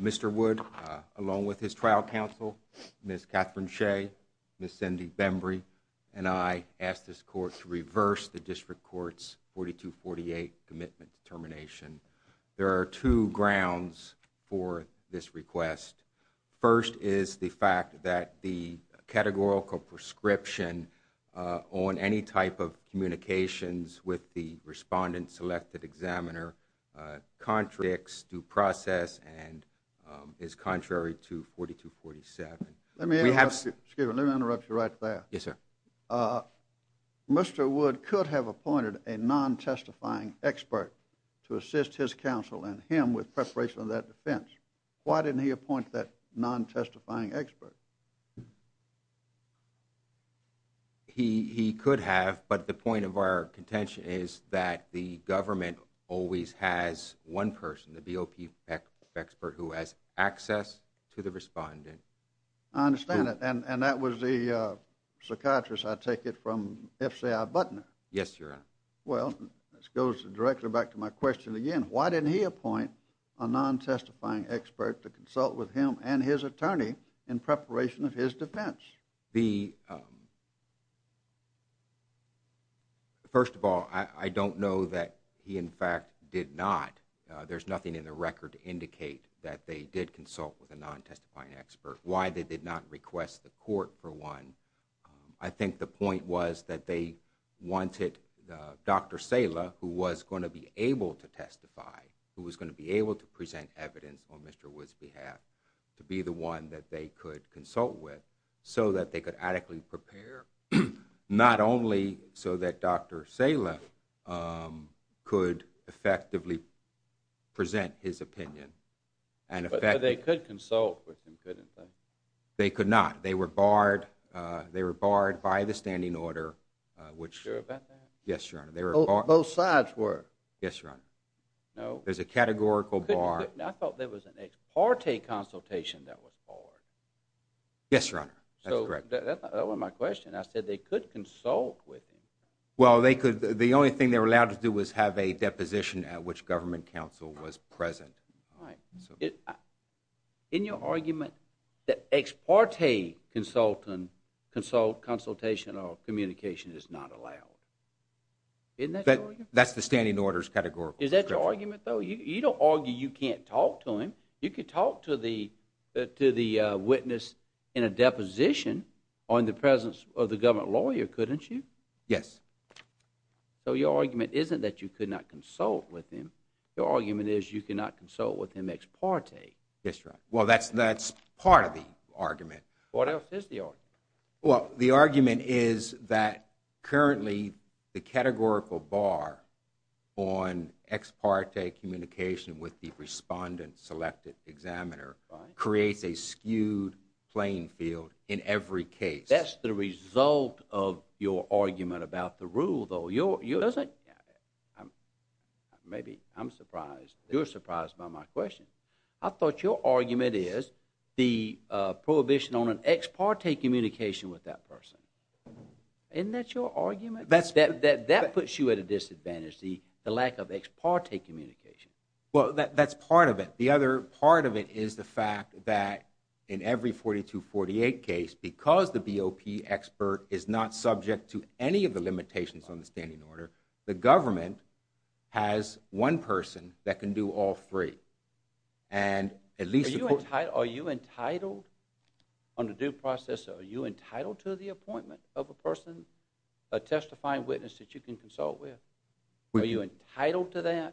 Mr. Wood, along with his trial counsel, Ms. Catherine Shea, Ms. Cindy Bembry, and I ask this court to reverse the District Court's 4248 commitment to termination. There are two grounds for this request. First is the fact that the categorical prescription on any type of communications with the respondent-selected examiner contradicts due process and is contrary to 4247. Mr. Wood could have appointed a non-testifying expert to assist his counsel and him with preparation of that defense. Why didn't he appoint that non-testifying expert? Mr. Wood He could have, but the point of our contention is that the government always has one person, the BOP expert, who has access to the respondent. Mr. Clay I understand that, and that was the psychiatrist, I take it, from F.C.I. Butner? Mr. Wood Yes, Your Honor. Mr. Clay Well, this goes directly back to my question again. Why didn't he appoint a non-testifying expert to consult with him and his attorney in preparation of his defense? Mr. Wood First of all, I don't know that he, in fact, did not. There's nothing in the record to indicate that they did consult with a non-testifying expert. Why they did not request the court for one, I think the point was that they wanted Dr. Sala, who was going to be able to testify, who was going to be one that they could consult with so that they could adequately prepare, not only so that Dr. Sala could effectively present his opinion and effectively- Mr. Clay But they could consult with him, couldn't they? Mr. Wood They could not. They were barred by the standing order, which- Mr. Clay You're sure about that? Mr. Wood Yes, Your Honor. They were barred- Mr. Clay Both sides were. Mr. Wood Yes, Your Honor. Mr. Clay No. Mr. Wood There's a categorical bar- there was an ex parte consultation that was barred. Mr. Clay Yes, Your Honor. That's correct. Mr. Wood So that wasn't my question. I said they could consult with him. Mr. Clay Well, they could. The only thing they were allowed to do was have a deposition at which government counsel was present. Mr. Wood All right. In your argument, the ex parte consultant consult consultation or communication is not allowed. Isn't that your argument? Mr. Clay That's the standing order's categorical Mr. Wood Is that your argument, though? You don't argue you can't talk to him. You could talk to the witness in a deposition or in the presence of the government lawyer, couldn't you? Mr. Clay Yes. Mr. Wood So your argument isn't that you could not consult with him. Your argument is you cannot consult with him ex parte. Mr. Clay That's right. Well, that's part of the argument. Mr. Wood What else is the argument? Mr. Clay The argument is that currently the categorical bar on ex parte communication with the respondent selected examiner creates a skewed playing field in every case. Mr. Wood That's the result of your argument about the rule, though. You're surprised by my question. I thought your argument is the prohibition on an ex parte communication with that person. Isn't that your argument? That puts you at a disadvantage, the lack of ex parte communication. Mr. Clay Well, that's part of it. The other part of it is the fact that in every 4248 case, because the BOP expert is not subject to any of the limitations on the standing order, the government has one person that can do all three. Mr. Wood Are you entitled on the due process, are you entitled to the appointment of a person, a testifying witness that you can consult with? Are you entitled to that? Mr.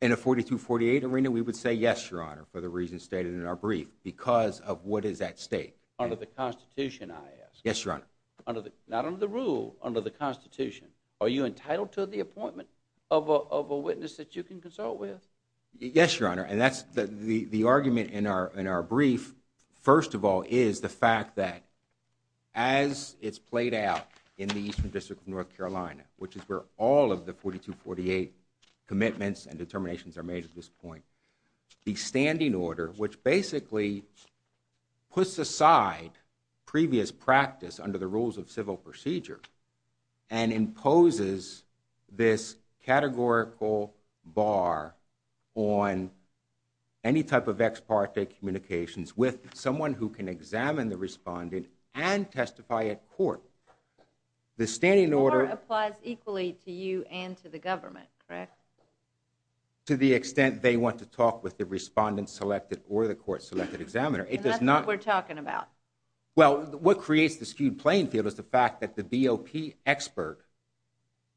Clay In a 4248 arena, we would say yes, Your Honor, for the reasons stated in our brief because of what is at stake. Mr. Wood Under the Constitution, I ask. Mr. Clay Yes, Your Honor. Mr. Wood Not under the rule, under the Constitution. Are you entitled to the appointment of a witness that you can consult with? Mr. Clay Yes, Your Honor. And that's the as it's played out in the Eastern District of North Carolina, which is where all of the 4248 commitments and determinations are made at this point. The standing order, which basically puts aside previous practice under the rules of civil procedure and imposes this categorical bar on any type of ex parte communications with someone who can examine the respondent and testify at court. The standing order... Ms. Morgan Or applies equally to you and to the government, correct? Mr. Clay To the extent they want to talk with the respondent selected or the court selected examiner, it does not... Ms. Morgan And that's what we're talking about. Mr. Clay Well, what creates the skewed playing field is the fact that the BOP expert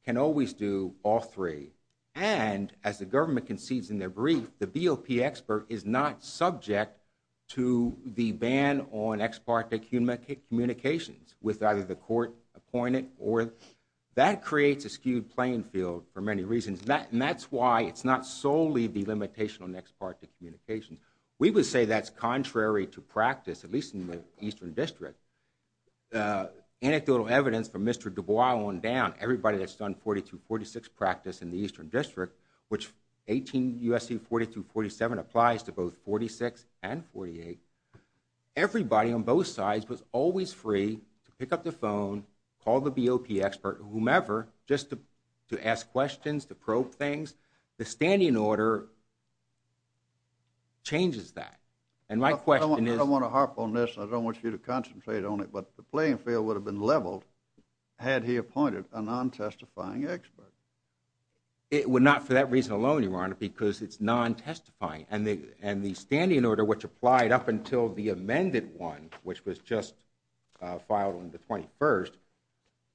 can always do all three. And as the government concedes in their brief, the BOP expert is not subject to the ban on ex parte communications with either the court appointed or that creates a skewed playing field for many reasons. And that's why it's not solely the limitation on ex parte communications. We would say that's contrary to practice, at least in the Eastern District. Anecdotal evidence from Mr. Dubois on down, everybody that's done 42-46 practice in the Eastern District, which 18 U.S.C. 42-47 applies to both 46 and 48. Everybody on both sides was always free to pick up the phone, call the BOP expert, whomever, just to ask questions, to probe things. The standing order changes that. And my question is... Mr. Clay I don't want to harp on this, and I don't want you to concentrate on it, but the playing field would have been leveled had he appointed a non-testifying expert. Mr. Dubois It would not for that reason alone, Your Honor, because it's non-testifying. And the standing order, which applied up until the amended one, which was just filed on the 21st,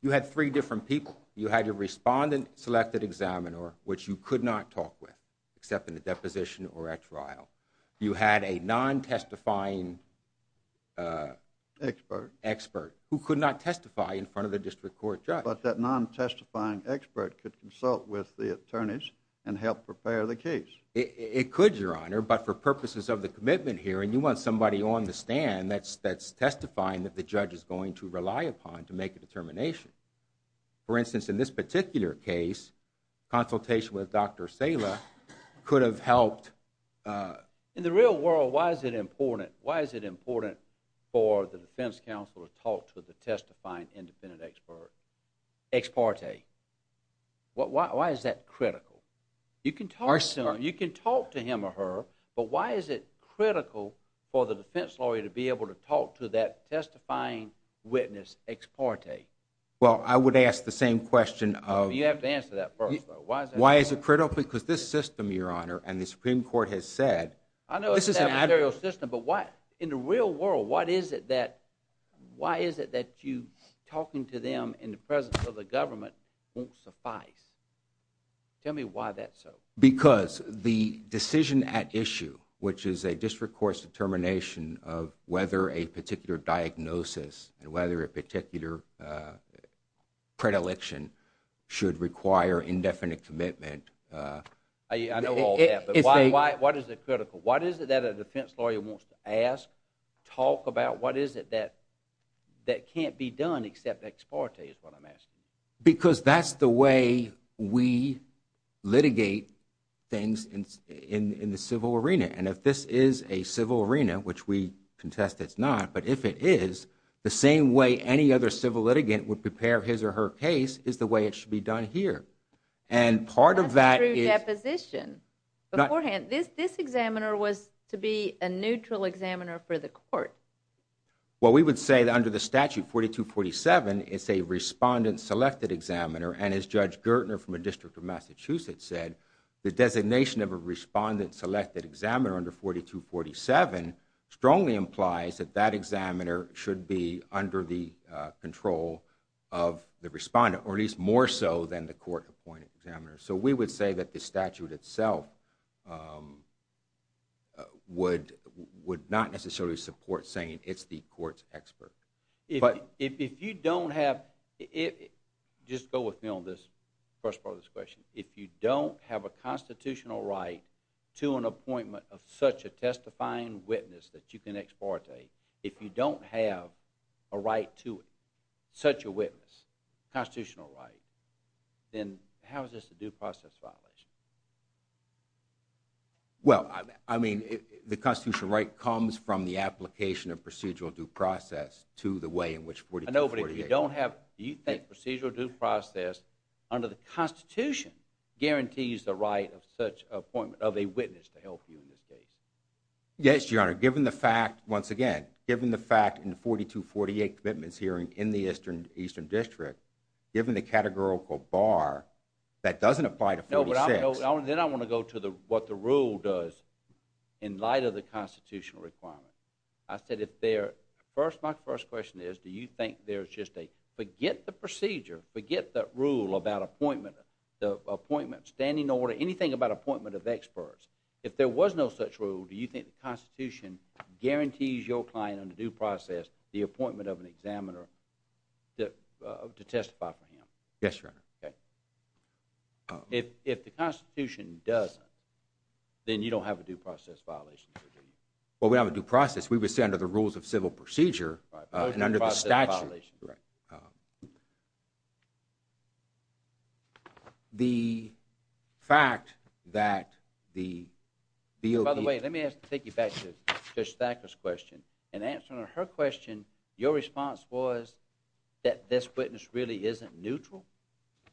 you had three different people. You had your deposition or at trial. You had a non-testifying expert who could not testify in front of the district court judge. Mr. Clay But that non-testifying expert could consult with the attorneys and help prepare the case. Mr. Dubois It could, Your Honor, but for purposes of the commitment hearing, you want somebody on the stand that's testifying that the judge is going to rely upon to make a determination. For instance, in this particular case, consultation with Dr. Sala could have helped... Mr. Clay In the real world, why is it important for the defense counsel to talk to the testifying independent expert, ex parte? Why is that critical? You can talk to him or her, but why is it critical for the defense lawyer to be able to talk to that testifying witness, ex parte? Mr. Dubois Well, I would ask the same question of... Mr. Clay You have to answer that first, though. Mr. Dubois Why is it critical? Because this system, Your Honor, and the Supreme Court has said... Mr. Clay I know it's an adversarial system, but in the real world, why is it that you talking to them in the presence of the government won't suffice? Tell me why that's so. Mr. Dubois Because the decision at issue, which is a district court's determination of whether a particular diagnosis and whether a indefinite commitment... Mr. Clay I know all that, but why is it critical? Why is it that a defense lawyer wants to ask, talk about, what is it that can't be done except ex parte is what I'm asking? Mr. Clay Because that's the way we litigate things in the civil arena. And if this is a civil arena, which we contest it's not, but if it is, the same way any other civil litigant would prepare his or her case is the way it should be done here. And part of that... Ms. Brown That's through deposition. Beforehand, this examiner was to be a neutral examiner for the court. Mr. Clay Well, we would say that under the statute 4247, it's a respondent selected examiner. And as Judge Gertner from a district of Massachusetts said, the designation of a respondent selected examiner under 4247 strongly implies that that then the court appointed examiner. So we would say that the statute itself would not necessarily support saying it's the court's expert. Mr. Brown If you don't have... Just go with me on this first part of this question. If you don't have a constitutional right to an appointment of such a testifying witness that you can ex parte, if you don't have a right to it, such a witness, constitutional right, then how is this a due process violation? Mr. Clay Well, I mean, the constitutional right comes from the application of procedural due process to the way in which 4248... Mr. Brown I know, but if you don't have, do you think procedural due process under the Constitution guarantees the right of such appointment of a witness to help you in this case? Mr. Clay Yes, Your Honor. Given the fact, once again, given the fact in the 4248 commitments hearing in the Eastern District, given the categorical bar, that doesn't apply to 46... Mr. Brown No, but then I want to go to what the rule does in light of the constitutional requirement. I said if there, first, my first question is, do you think there's just a, forget the procedure, forget the rule about appointment, the appointment, standing order, anything about appointment of experts. If there was no such rule, do you think the Constitution guarantees your client under due process the appointment of an examiner to testify for him? Mr. Clay Yes, Your Honor. Mr. Brown Okay. If the Constitution doesn't, then you don't have a due process violation, do you? Mr. Clay Well, we don't have a due process. We would say under the rules of civil procedure and under the statute. Mr. Brown Correct. Mr. Brown The fact that the... Mr. Brown By the way, let me take you back to Judge Thacker's question. In answering her question, your response was that this witness really isn't neutral?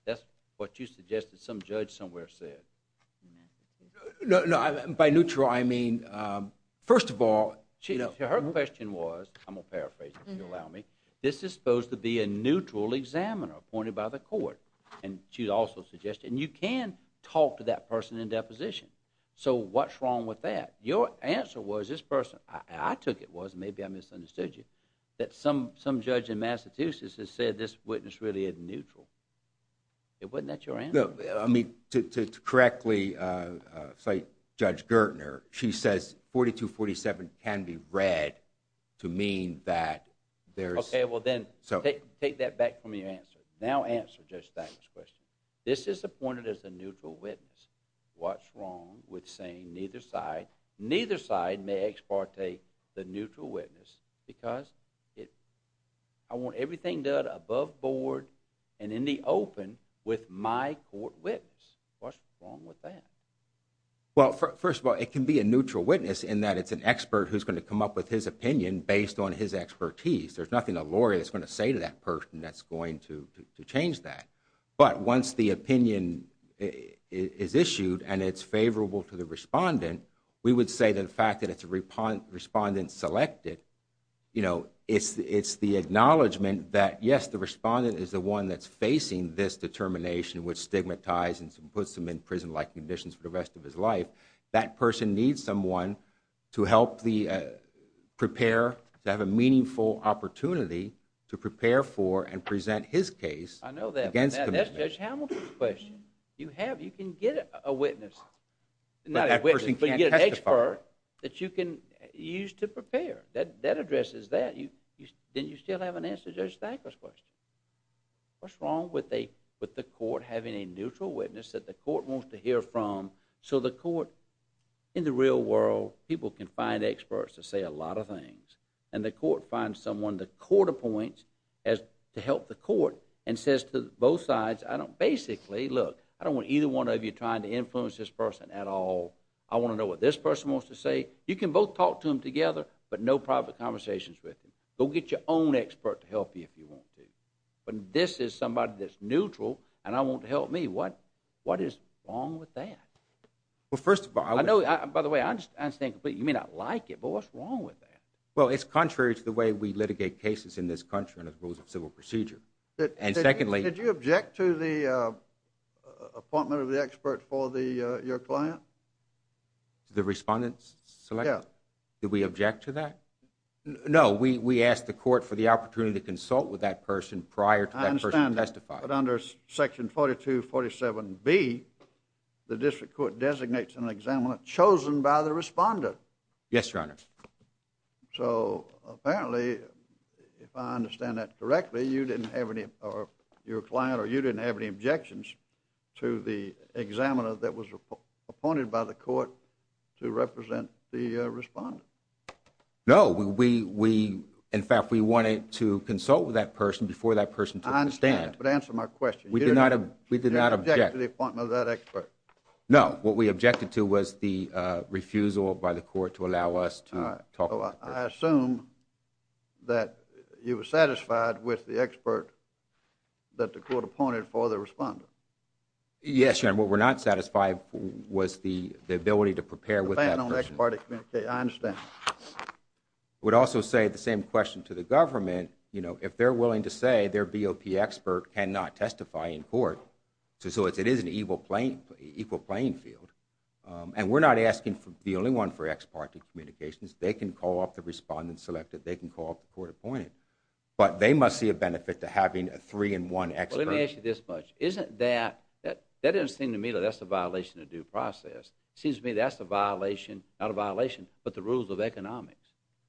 That's what you suggested some judge somewhere said. Mr. Brown No, by neutral, I mean, first of all... Mr. Brown Her question was, I'm going to paraphrase if you allow me. This is supposed to be a neutral examiner appointed by the court, and she also suggested, and you can talk to that person in deposition. So what's wrong with that? Your answer was, this person, I took it was, maybe I misunderstood you, that some judge in Massachusetts has said this witness really isn't neutral. Wasn't that your answer? Mr. Brown No, I mean, to correctly cite Judge Gertner, she says 4247 can be read to mean that there's... Mr. Brown Okay, well then, take that back from your answer. Now answer Judge Thacker's question. This is appointed as a neutral witness. What's wrong with saying neither side, neither side may ex parte the neutral witness because I want everything done above board and in the open with my court witness. What's wrong with that? Mr. Brown Well, first of all, it can be a neutral witness in that it's an expert who's going to come up with his opinion based on his expertise. There's nothing a lawyer is going to say to that person that's going to change that. But once the opinion is issued, and it's favorable to the respondent, we would say that the fact that it's a respondent selected, you know, it's the acknowledgement that yes, the respondent is the one that's facing this determination, which stigmatizes and puts them in prison-like conditions for the rest of his life. That person needs someone to help the prepare, to have a meaningful opportunity to prepare for and present his case against... Mr. Brown I know that, but that's Judge Hamilton's question. You have, you can get a witness. Not a witness, but you get an expert that you can use to prepare. That addresses that. Then you still have an answer to Judge Thacker's question. What's wrong with the court having a neutral witness that the court wants to hear from so the court, in the real world, people can find experts to say a lot of things, and the court finds someone the court appoints to help the court and says to both sides, I don't, basically, look, I don't want either one of you trying to influence this person at all. I want to know what this person wants to say. You can both talk to them together, but no private conversations with them. Go get your own expert to help you if you want to, but this is somebody that's neutral, and I want to help me. What, what is wrong with that? Well, first of all, I know, by the way, I understand completely, you may not like it, but what's wrong with that? Well, it's contrary to the way we litigate cases in this country and the rules of civil procedure, and secondly... Your client? The respondent selected? Yeah. Did we object to that? No, we, we asked the court for the opportunity to consult with that person prior to that person testifying. I understand, but under section 4247B, the district court designates an examiner chosen by the respondent. Yes, your honor. So, apparently, if I understand that correctly, you didn't have any, or your client, or you didn't have any objections to the examiner that was appointed by the court to represent the respondent? No, we, we, we, in fact, we wanted to consult with that person before that person took the stand. I understand, but answer my question. We did not, we did not object. Did you object to the appointment of that expert? No, what we objected to was the refusal by the court to allow us to talk. All right, so I assume that you were satisfied with the expert that the court appointed for the respondent? Yes, your honor. What we're not satisfied was the, the ability to prepare with that person. Depending on the ex-parte communicator, I understand. I would also say the same question to the government, you know, if they're willing to say their BOP expert cannot testify in court, so it's, it is an equal playing, equal playing field, and we're not asking for, the only one for ex-parte communications. They can call up the respondent selected. They can call up the court appointed, but they must see a benefit to having a three-in-one expert. Well, let me ask you this much. Isn't that, that, that doesn't seem to me that that's a violation of due process. It seems to me that's a violation, not a violation, but the rules of economics.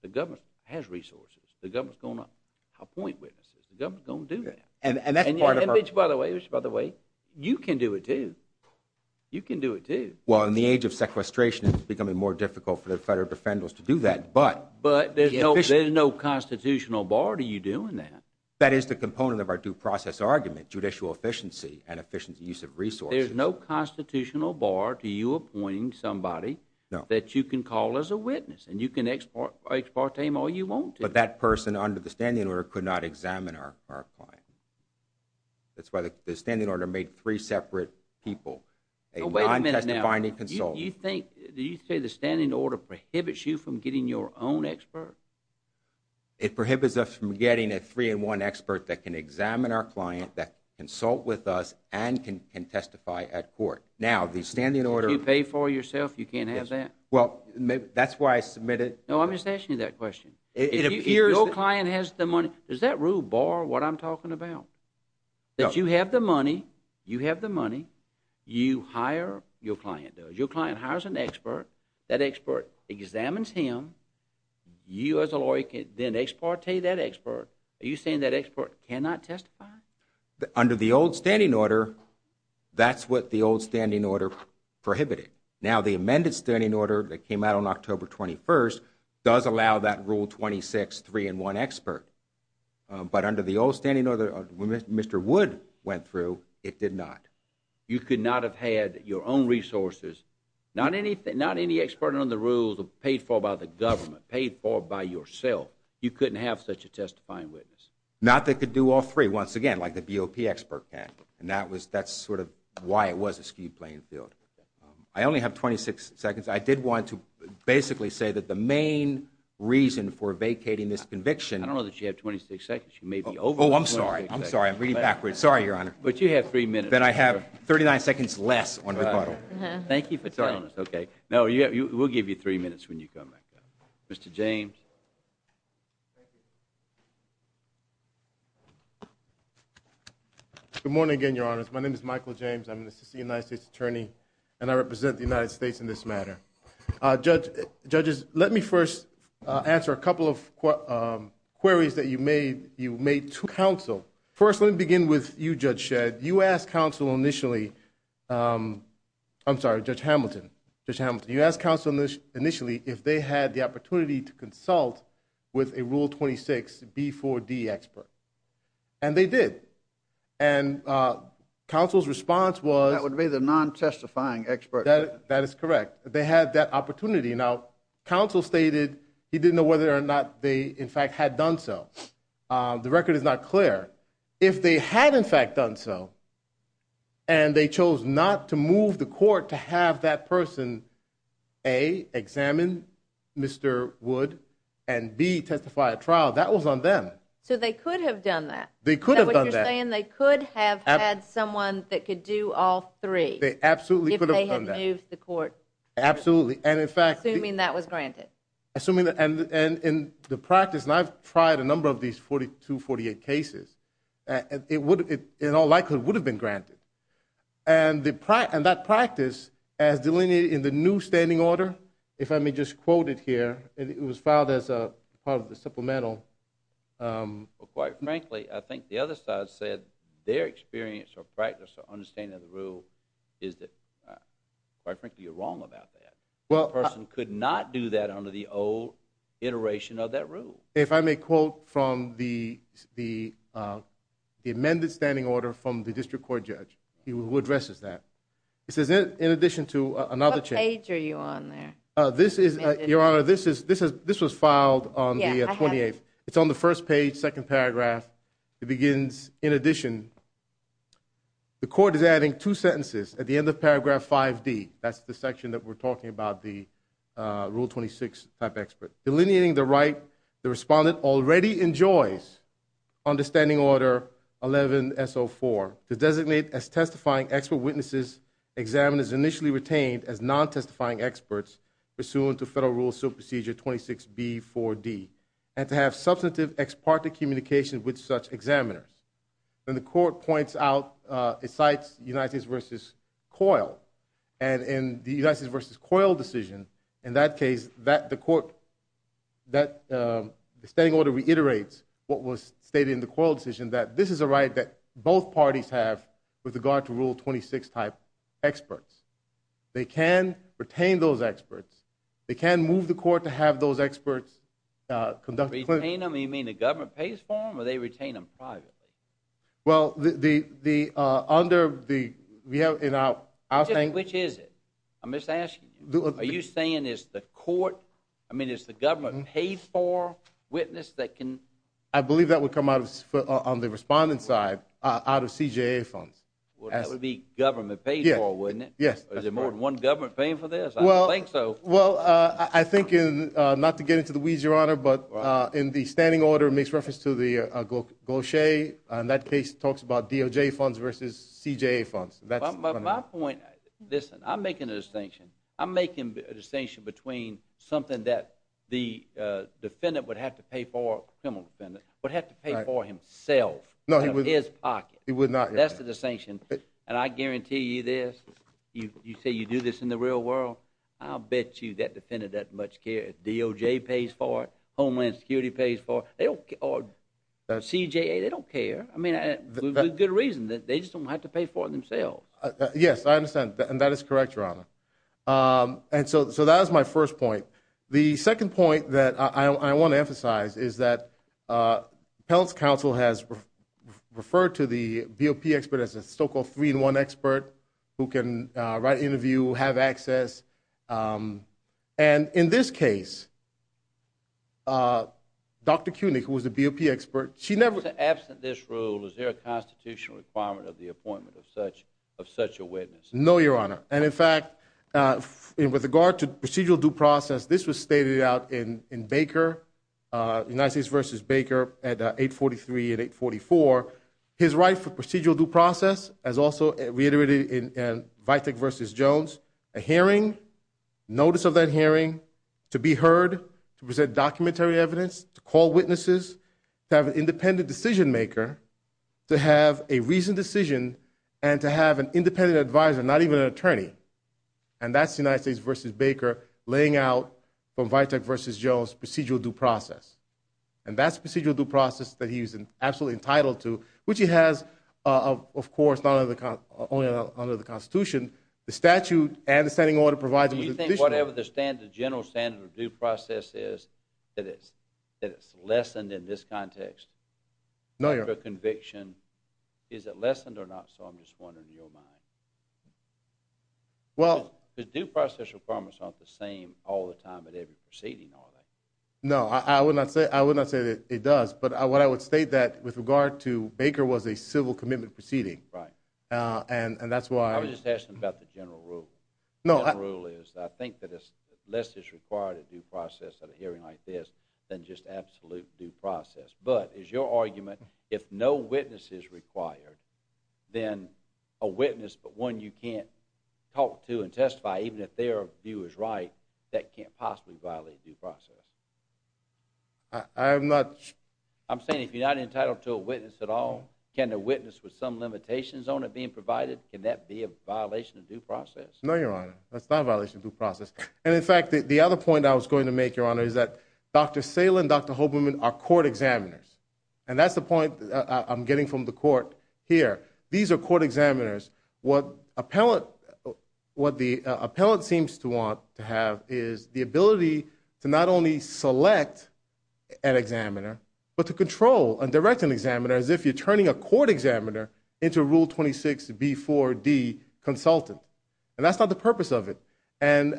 The government has resources. The government's going to appoint witnesses. The government's going to do that. And, and that's part of our- And, by the way, by the way, you can do it too. You can do it too. Well, in the age of sequestration, it's becoming more difficult for the federal defendants to do that, but- But there's no, there's no constitutional bar to you doing that. That is the component of our due process argument, judicial efficiency, and efficient use of resources. There's no constitutional bar to you appointing somebody- No. That you can call as a witness, and you can ex-parte him all you want to. But that person, under the standing order, could not examine our, our client. That's why the, the standing order made three separate people. A non-testifying consultant. Oh, wait a minute now. You, you think, did you say the standing order prohibits you from getting your own expert? It prohibits us from getting a three-in-one expert that can examine our client, that consult with us, and can, can testify at court. Now, the standing order- You pay for yourself, you can't have that? Yes. Well, that's why I submitted- No, I'm just asking you that question. It appears- If your client has the money, does that rule bar what I'm talking about? No. That you have the money, you have the money, you hire your client. Your client hires an expert. That expert examines him. You, as a lawyer, can then ex-parte that expert. Are you saying that expert cannot testify? Under the old standing order, that's what the old standing order prohibited. Now, the amended standing order that came out on October 21st does allow that rule 26, three-in-one expert. But under the old standing order, Mr. Wood went through, it did not. You could not have had your own resources, not any, not any expert on the rules paid for by the government, paid for by yourself. You couldn't have such a testifying witness. Not that could do all three, once again, like the BOP expert can. And that was, that's sort of why it was a skewed playing field. I only have 26 seconds. I did want to basically say that the main reason for vacating this conviction- I don't know that you have 26 seconds. You may be over- Oh, I'm sorry. I'm sorry. I'm reading backwards. Sorry, Your Honor. But you have three minutes. Then I have 39 seconds less on the clock. Thank you for telling us. Okay. No, we'll give you three minutes when you come back up. Mr. James. Good morning again, Your Honor. My name is Michael James. I'm an assistant United States attorney and I represent the United States in this matter. Judges, let me first answer a couple of queries that you made to counsel. First, let me begin with you, Judge Shedd. You asked counsel initially- I'm sorry, Judge Hamilton. Judge Hamilton, you asked counsel initially if they had the opportunity to consult with a Rule 26 B4D expert. And they did. And counsel's response was- That would be the non-testifying expert. That is correct. They had that opportunity. Now, counsel stated he didn't know whether or not they, in fact, had done so. The record is not clear. If they had, in fact, done so, and they chose not to move the court to have that person A, examine Mr. Wood, and B, testify at trial, that was on them. So they could have done that. They could have done that. Is that what you're saying? They could have had someone that could do all three. They absolutely could have done that. If they had moved the court. Absolutely. And in fact- Assuming that was granted. Assuming that- And in the practice, and I've tried a number of these 42, 48 cases, and it would, in all likelihood, would have been granted. And that practice, as delineated in the new standing order, if I may just quote it here, it was filed as part of the supplemental- Quite frankly, I think the other side said their experience or practice or understanding of the old iteration of that rule. If I may quote from the amended standing order from the district court judge, who addresses that. It says, in addition to- What page are you on there? Your Honor, this was filed on the 28th. It's on the first page, second paragraph. It begins, in addition, the court is adding two sentences at the end of paragraph 5D. That's the section that we're talking about, the rule 26 type expert. Delineating the right, the respondent already enjoys understanding order 11-S04, to designate as testifying expert witnesses, examiners initially retained as non-testifying experts pursuant to federal rule procedure 26B4D, and to have substantive ex parte communication with such examiners. Then the court points out, it cites United States v. Coyle. And in the United States v. Coyle decision, in that case, the court, the standing order reiterates what was stated in the Coyle decision, that this is a right that both parties have with regard to rule 26 type experts. They can retain those experts. They can move the court to have those experts conduct- Retain them, you mean the government pays for them, or they retain them privately? Well, the, under the, we have in our, our thing- Which is it? I'm just asking you. Are you saying it's the court, I mean, it's the government paid for witness that can- I believe that would come out of, on the respondent side, out of CJA funds. Well, that would be government paid for, wouldn't it? Yes. Is there more than one government paying for this? I don't think so. Well, I think in, not to get into the weeds, Your Honor, but in the standing order, makes reference to the Gaucher, and that case talks about DOJ funds versus CJA funds. But my point, listen, I'm making a distinction. I'm making a distinction between something that the defendant would have to pay for, criminal defendant, would have to pay for himself. No, he would- Out of his pocket. He would not- That's the distinction. And I guarantee you this, you say you do this in the real world, I'll bet you that defendant doesn't much care if DOJ pays for it, Homeland Security pays for it, or CJA, they don't care. I mean, good reason that they just don't have to pay for it themselves. Yes, I understand. And that is correct, Your Honor. And so that was my first point. The second point that I want to emphasize is that appellate's counsel has referred to the BOP expert as a so-called three-in-one expert who can write interview, have access. And in this case, Dr. Koenig, who was the BOP expert, she never- Absent this rule, is there a constitutional requirement of the appointment of such a witness? No, Your Honor. And in fact, with regard to procedural due process, this was stated out in Baker, United States versus Baker at 843 and 844, his right for procedural due process, as also reiterated in Vitek versus Jones, a hearing, notice of that hearing, to be heard, to present documentary evidence, to call witnesses, to have an independent decision-maker, to have a reasoned decision, and to have an independent advisor, not even an attorney. And that's United States versus Baker laying out from Vitek versus Jones procedural due process. And that's procedural due process that he was absolutely entitled to, which he has, of course, not only under the Constitution, the statute and the standing order provides- Do you think whatever the standard, general standard of due process is, that it's lessened in this context? No, Your Honor. The conviction, is it lessened or not? So I'm just wondering in your mind. Well- The due process requirements aren't the same all the time at every proceeding, are they? No, I would not say that it does. But what I would state that with regard to Baker was a civil commitment proceeding. And that's why- I was just asking about the general rule. No- The general rule is that I think that less is required of due process at a hearing like this than just absolute due process. But is your argument, if no witness is required, then a witness but one you can't talk to and testify, even if their view is right, that can't possibly violate due process? I'm not- With some limitations on it being provided, can that be a violation of due process? No, Your Honor. That's not a violation of due process. And in fact, the other point I was going to make, Your Honor, is that Dr. Salem and Dr. Hoberman are court examiners. And that's the point I'm getting from the court here. These are court examiners. What the appellant seems to want to have is the ability to not only select an examiner, but to control and direct an examiner as if you're turning a court examiner into a Rule 26B4D consultant. And that's not the purpose of it. And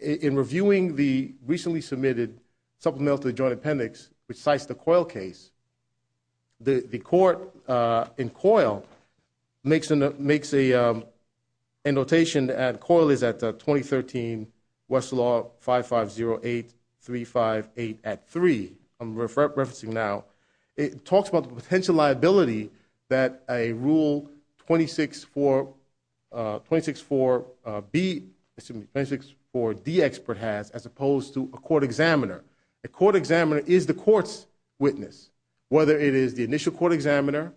in reviewing the recently submitted supplemental to the Joint Appendix, which cites the Coyle case, the court in Coyle makes a notation that Coyle is at 2013, Westlaw 5508358 at 3. I'm referencing now. It talks about the potential liability that a Rule 264B, excuse me, 264D expert has as opposed to a court examiner. A court examiner is the court's witness, whether it is the initial court examiner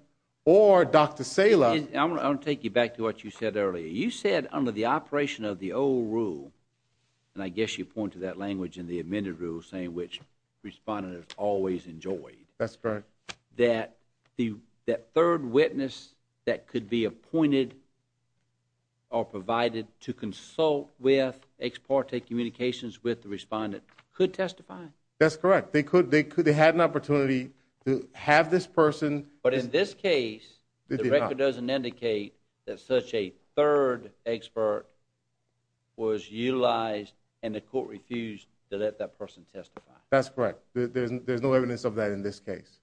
or Dr. Salem. I'm going to take you back to what you said earlier. You said under the operation of the old and I guess you pointed that language in the amended rule saying which respondent has always enjoyed. That's correct. That the third witness that could be appointed or provided to consult with ex parte communications with the respondent could testify. That's correct. They could. They could. They had an opportunity to have this person. But in this case, the record doesn't indicate that such a third expert was utilized and the court refused to let that person testify. That's correct. There's no evidence of that in this case.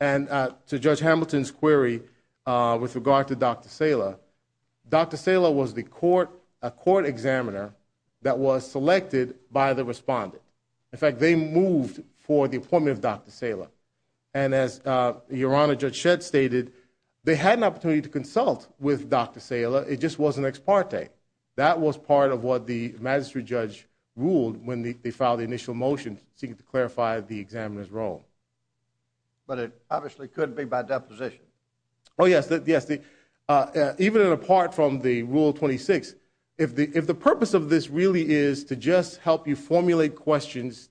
And to Judge Hamilton's query with regard to Dr. Salem, Dr. Salem was the court, a court examiner that was selected by the respondent. In fact, they moved for the appointment of Dr. Salem. And as Your Honor, Judge Shedd stated, they had an opportunity to consult with Dr. Salem. It just wasn't ex parte. That was part of what the magistrate judge ruled when they filed the initial motion seeking to clarify the examiner's role. But it obviously couldn't be by deposition. Oh, yes. Yes. Even apart from the Rule 26, if the purpose of this really is to just help you interrogatories,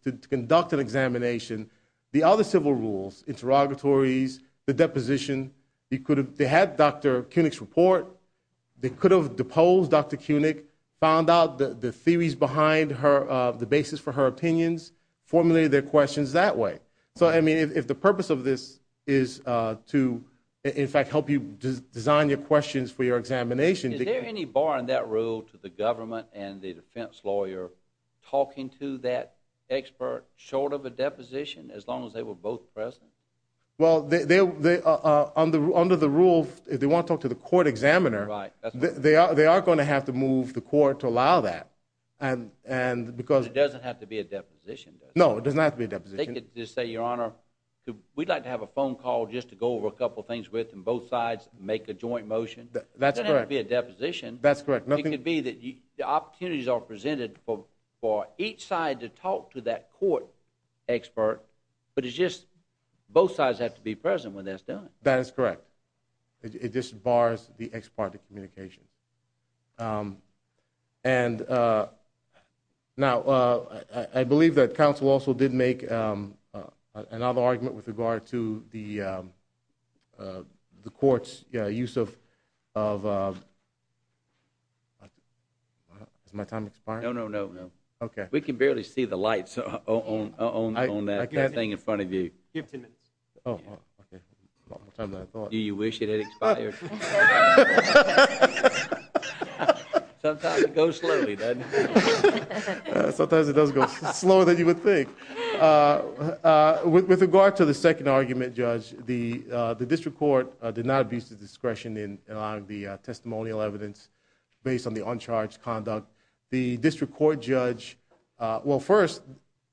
the deposition, you could have had Dr. Koenig's report. They could have deposed Dr. Koenig, found out the theories behind the basis for her opinions, formulated their questions that way. So, I mean, if the purpose of this is to, in fact, help you design your questions for your examination. Is there any bar in that rule to the government and the defense talking to that expert short of a deposition as long as they were both present? Well, under the rule, if they want to talk to the court examiner, they are going to have to move the court to allow that. It doesn't have to be a deposition, does it? No, it doesn't have to be a deposition. They could just say, Your Honor, we'd like to have a phone call just to go over a couple things with them, both sides make a joint motion. It doesn't have to be a deposition. That's correct. It could be that the opportunities are presented for each side to talk to that court expert, but it's just both sides have to be present when that's done. That is correct. It just bars the ex parte communication. And now, I believe that counsel also did make another argument with regard to the second argument, Judge. The district court did not abuse the discretion in allowing the conduct. The district court judge, well, first,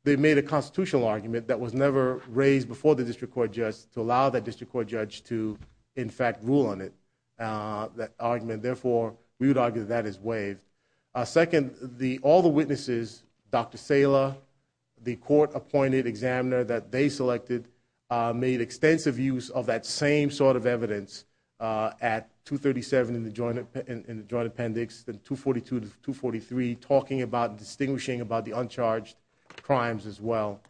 they made a constitutional argument that was never raised before the district court judge to allow that district court judge to, in fact, rule on it. That argument, therefore, we would argue that that is waived. Second, all the witnesses, Dr. Saylor, the court appointed examiner that they selected, made extensive use of that same sort of evidence at 237 in the joint appendix. 243 talking about distinguishing about the uncharged crimes as well.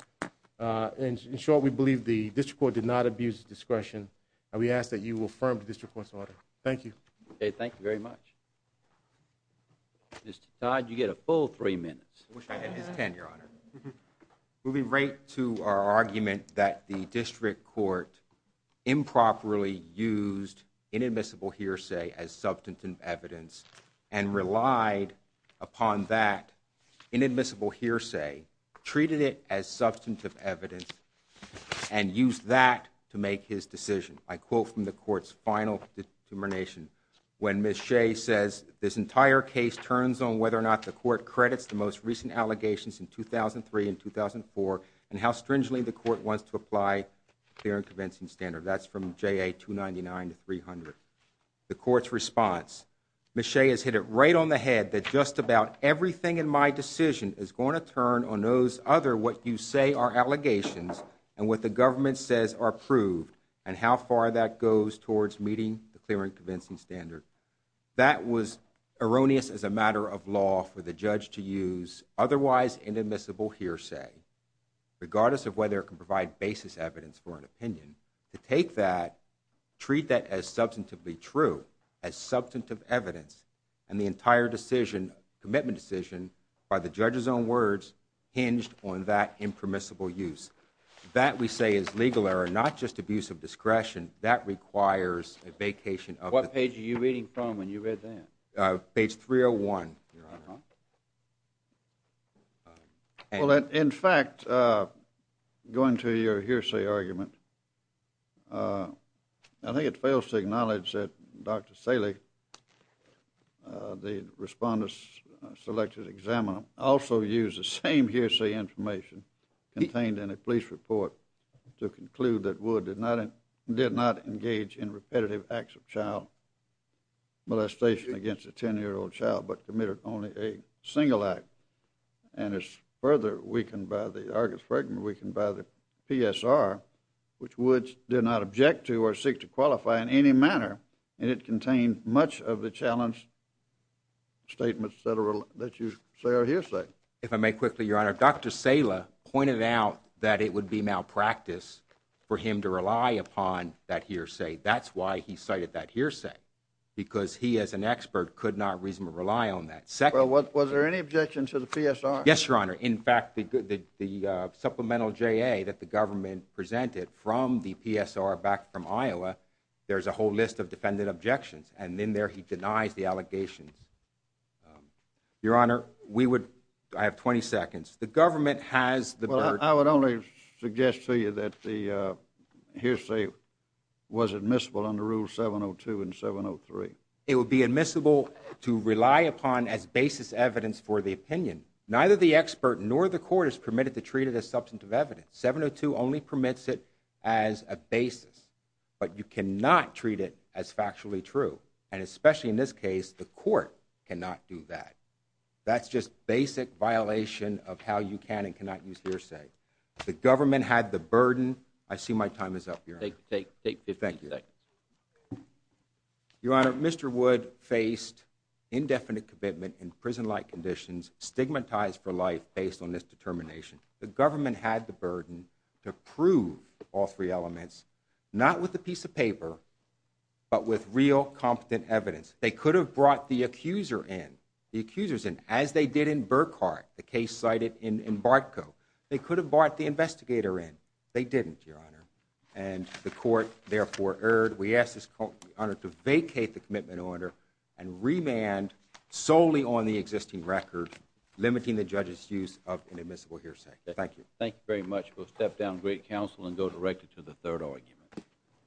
In short, we believe the district court did not abuse discretion and we ask that you affirm the district court's order. Thank you. Okay, thank you very much. Mr. Todd, you get a full three minutes. I wish I had his tenure, your honor. Moving right to our argument that the district court improperly used inadmissible hearsay as substantive evidence and relied upon that inadmissible hearsay, treated it as substantive evidence, and used that to make his decision. I quote from the court's final determination when Ms. Shea says this entire case turns on whether or not the court credits the most recent allegations in 2003 and 2004 and how the court wants to apply the clear and convincing standard. That's from JA 299 to 300. The court's response, Ms. Shea has hit it right on the head that just about everything in my decision is going to turn on those other what you say are allegations and what the government says are proved and how far that goes towards meeting the clear and convincing standard. That was erroneous as a matter of law for the judge to use otherwise inadmissible hearsay. Regardless of whether it can provide basis evidence for an opinion, to take that, treat that as substantively true, as substantive evidence, and the entire decision, commitment decision, by the judge's own words hinged on that impermissible use. That we say is legal error, not just abuse of discretion. That requires a vacation of What page are you reading from when you read that? Page 301. Uh-huh. Well, in fact, uh, going to your hearsay argument, uh, I think it fails to acknowledge that Dr. Saleh, uh, the respondent's selected examiner also used the same hearsay information contained in a police report to conclude that Wood did not engage in repetitive acts of child molestation against a 10-year-old child but committed only a single act. And it's further weakened by the Argus Fragment, weakened by the PSR, which Woods did not object to or seek to qualify in any manner, and it contained much of the challenge statements that are, that you say are hearsay. If I may quickly, your honor, Dr. Saleh pointed out that it would be malpractice for him to rely upon that hearsay. That's why he cited that hearsay, because he as an expert could not reasonably rely on that. Well, was there any objection to the PSR? Yes, your honor. In fact, the supplemental J.A. that the government presented from the PSR back from Iowa, there's a whole list of defendant objections, and in there he denies the allegations. Your honor, we would, I have 20 seconds. The government has the burden. I would only suggest to you that the hearsay was admissible under Rule 702 and 703. It would be admissible to rely upon as basis evidence for the opinion. Neither the expert nor the court is permitted to treat it as substantive evidence. 702 only permits it as a basis, but you cannot treat it as factually true, and especially in this case, the court cannot do that. That's just basic violation of how you can and cannot use hearsay. The government had the burden. I see my time is up, your honor. Take, take, take 15 seconds. Your honor, Mr. Wood faced indefinite commitment in prison-like conditions, stigmatized for life based on this determination. The government had the burden to prove all three elements, not with a piece of paper, but with real competent evidence. They could have brought the accuser in, the accusers in, as they did in Burkhart, the case cited in Bartco. They could have brought the investigator in. They didn't, your honor, and the court therefore erred. We ask this court, your honor, to vacate the commitment order and remand solely on the existing record, limiting the judge's use of an admissible hearsay. Thank you. Thank you very much. We'll step down great counsel and go directly to the third argument.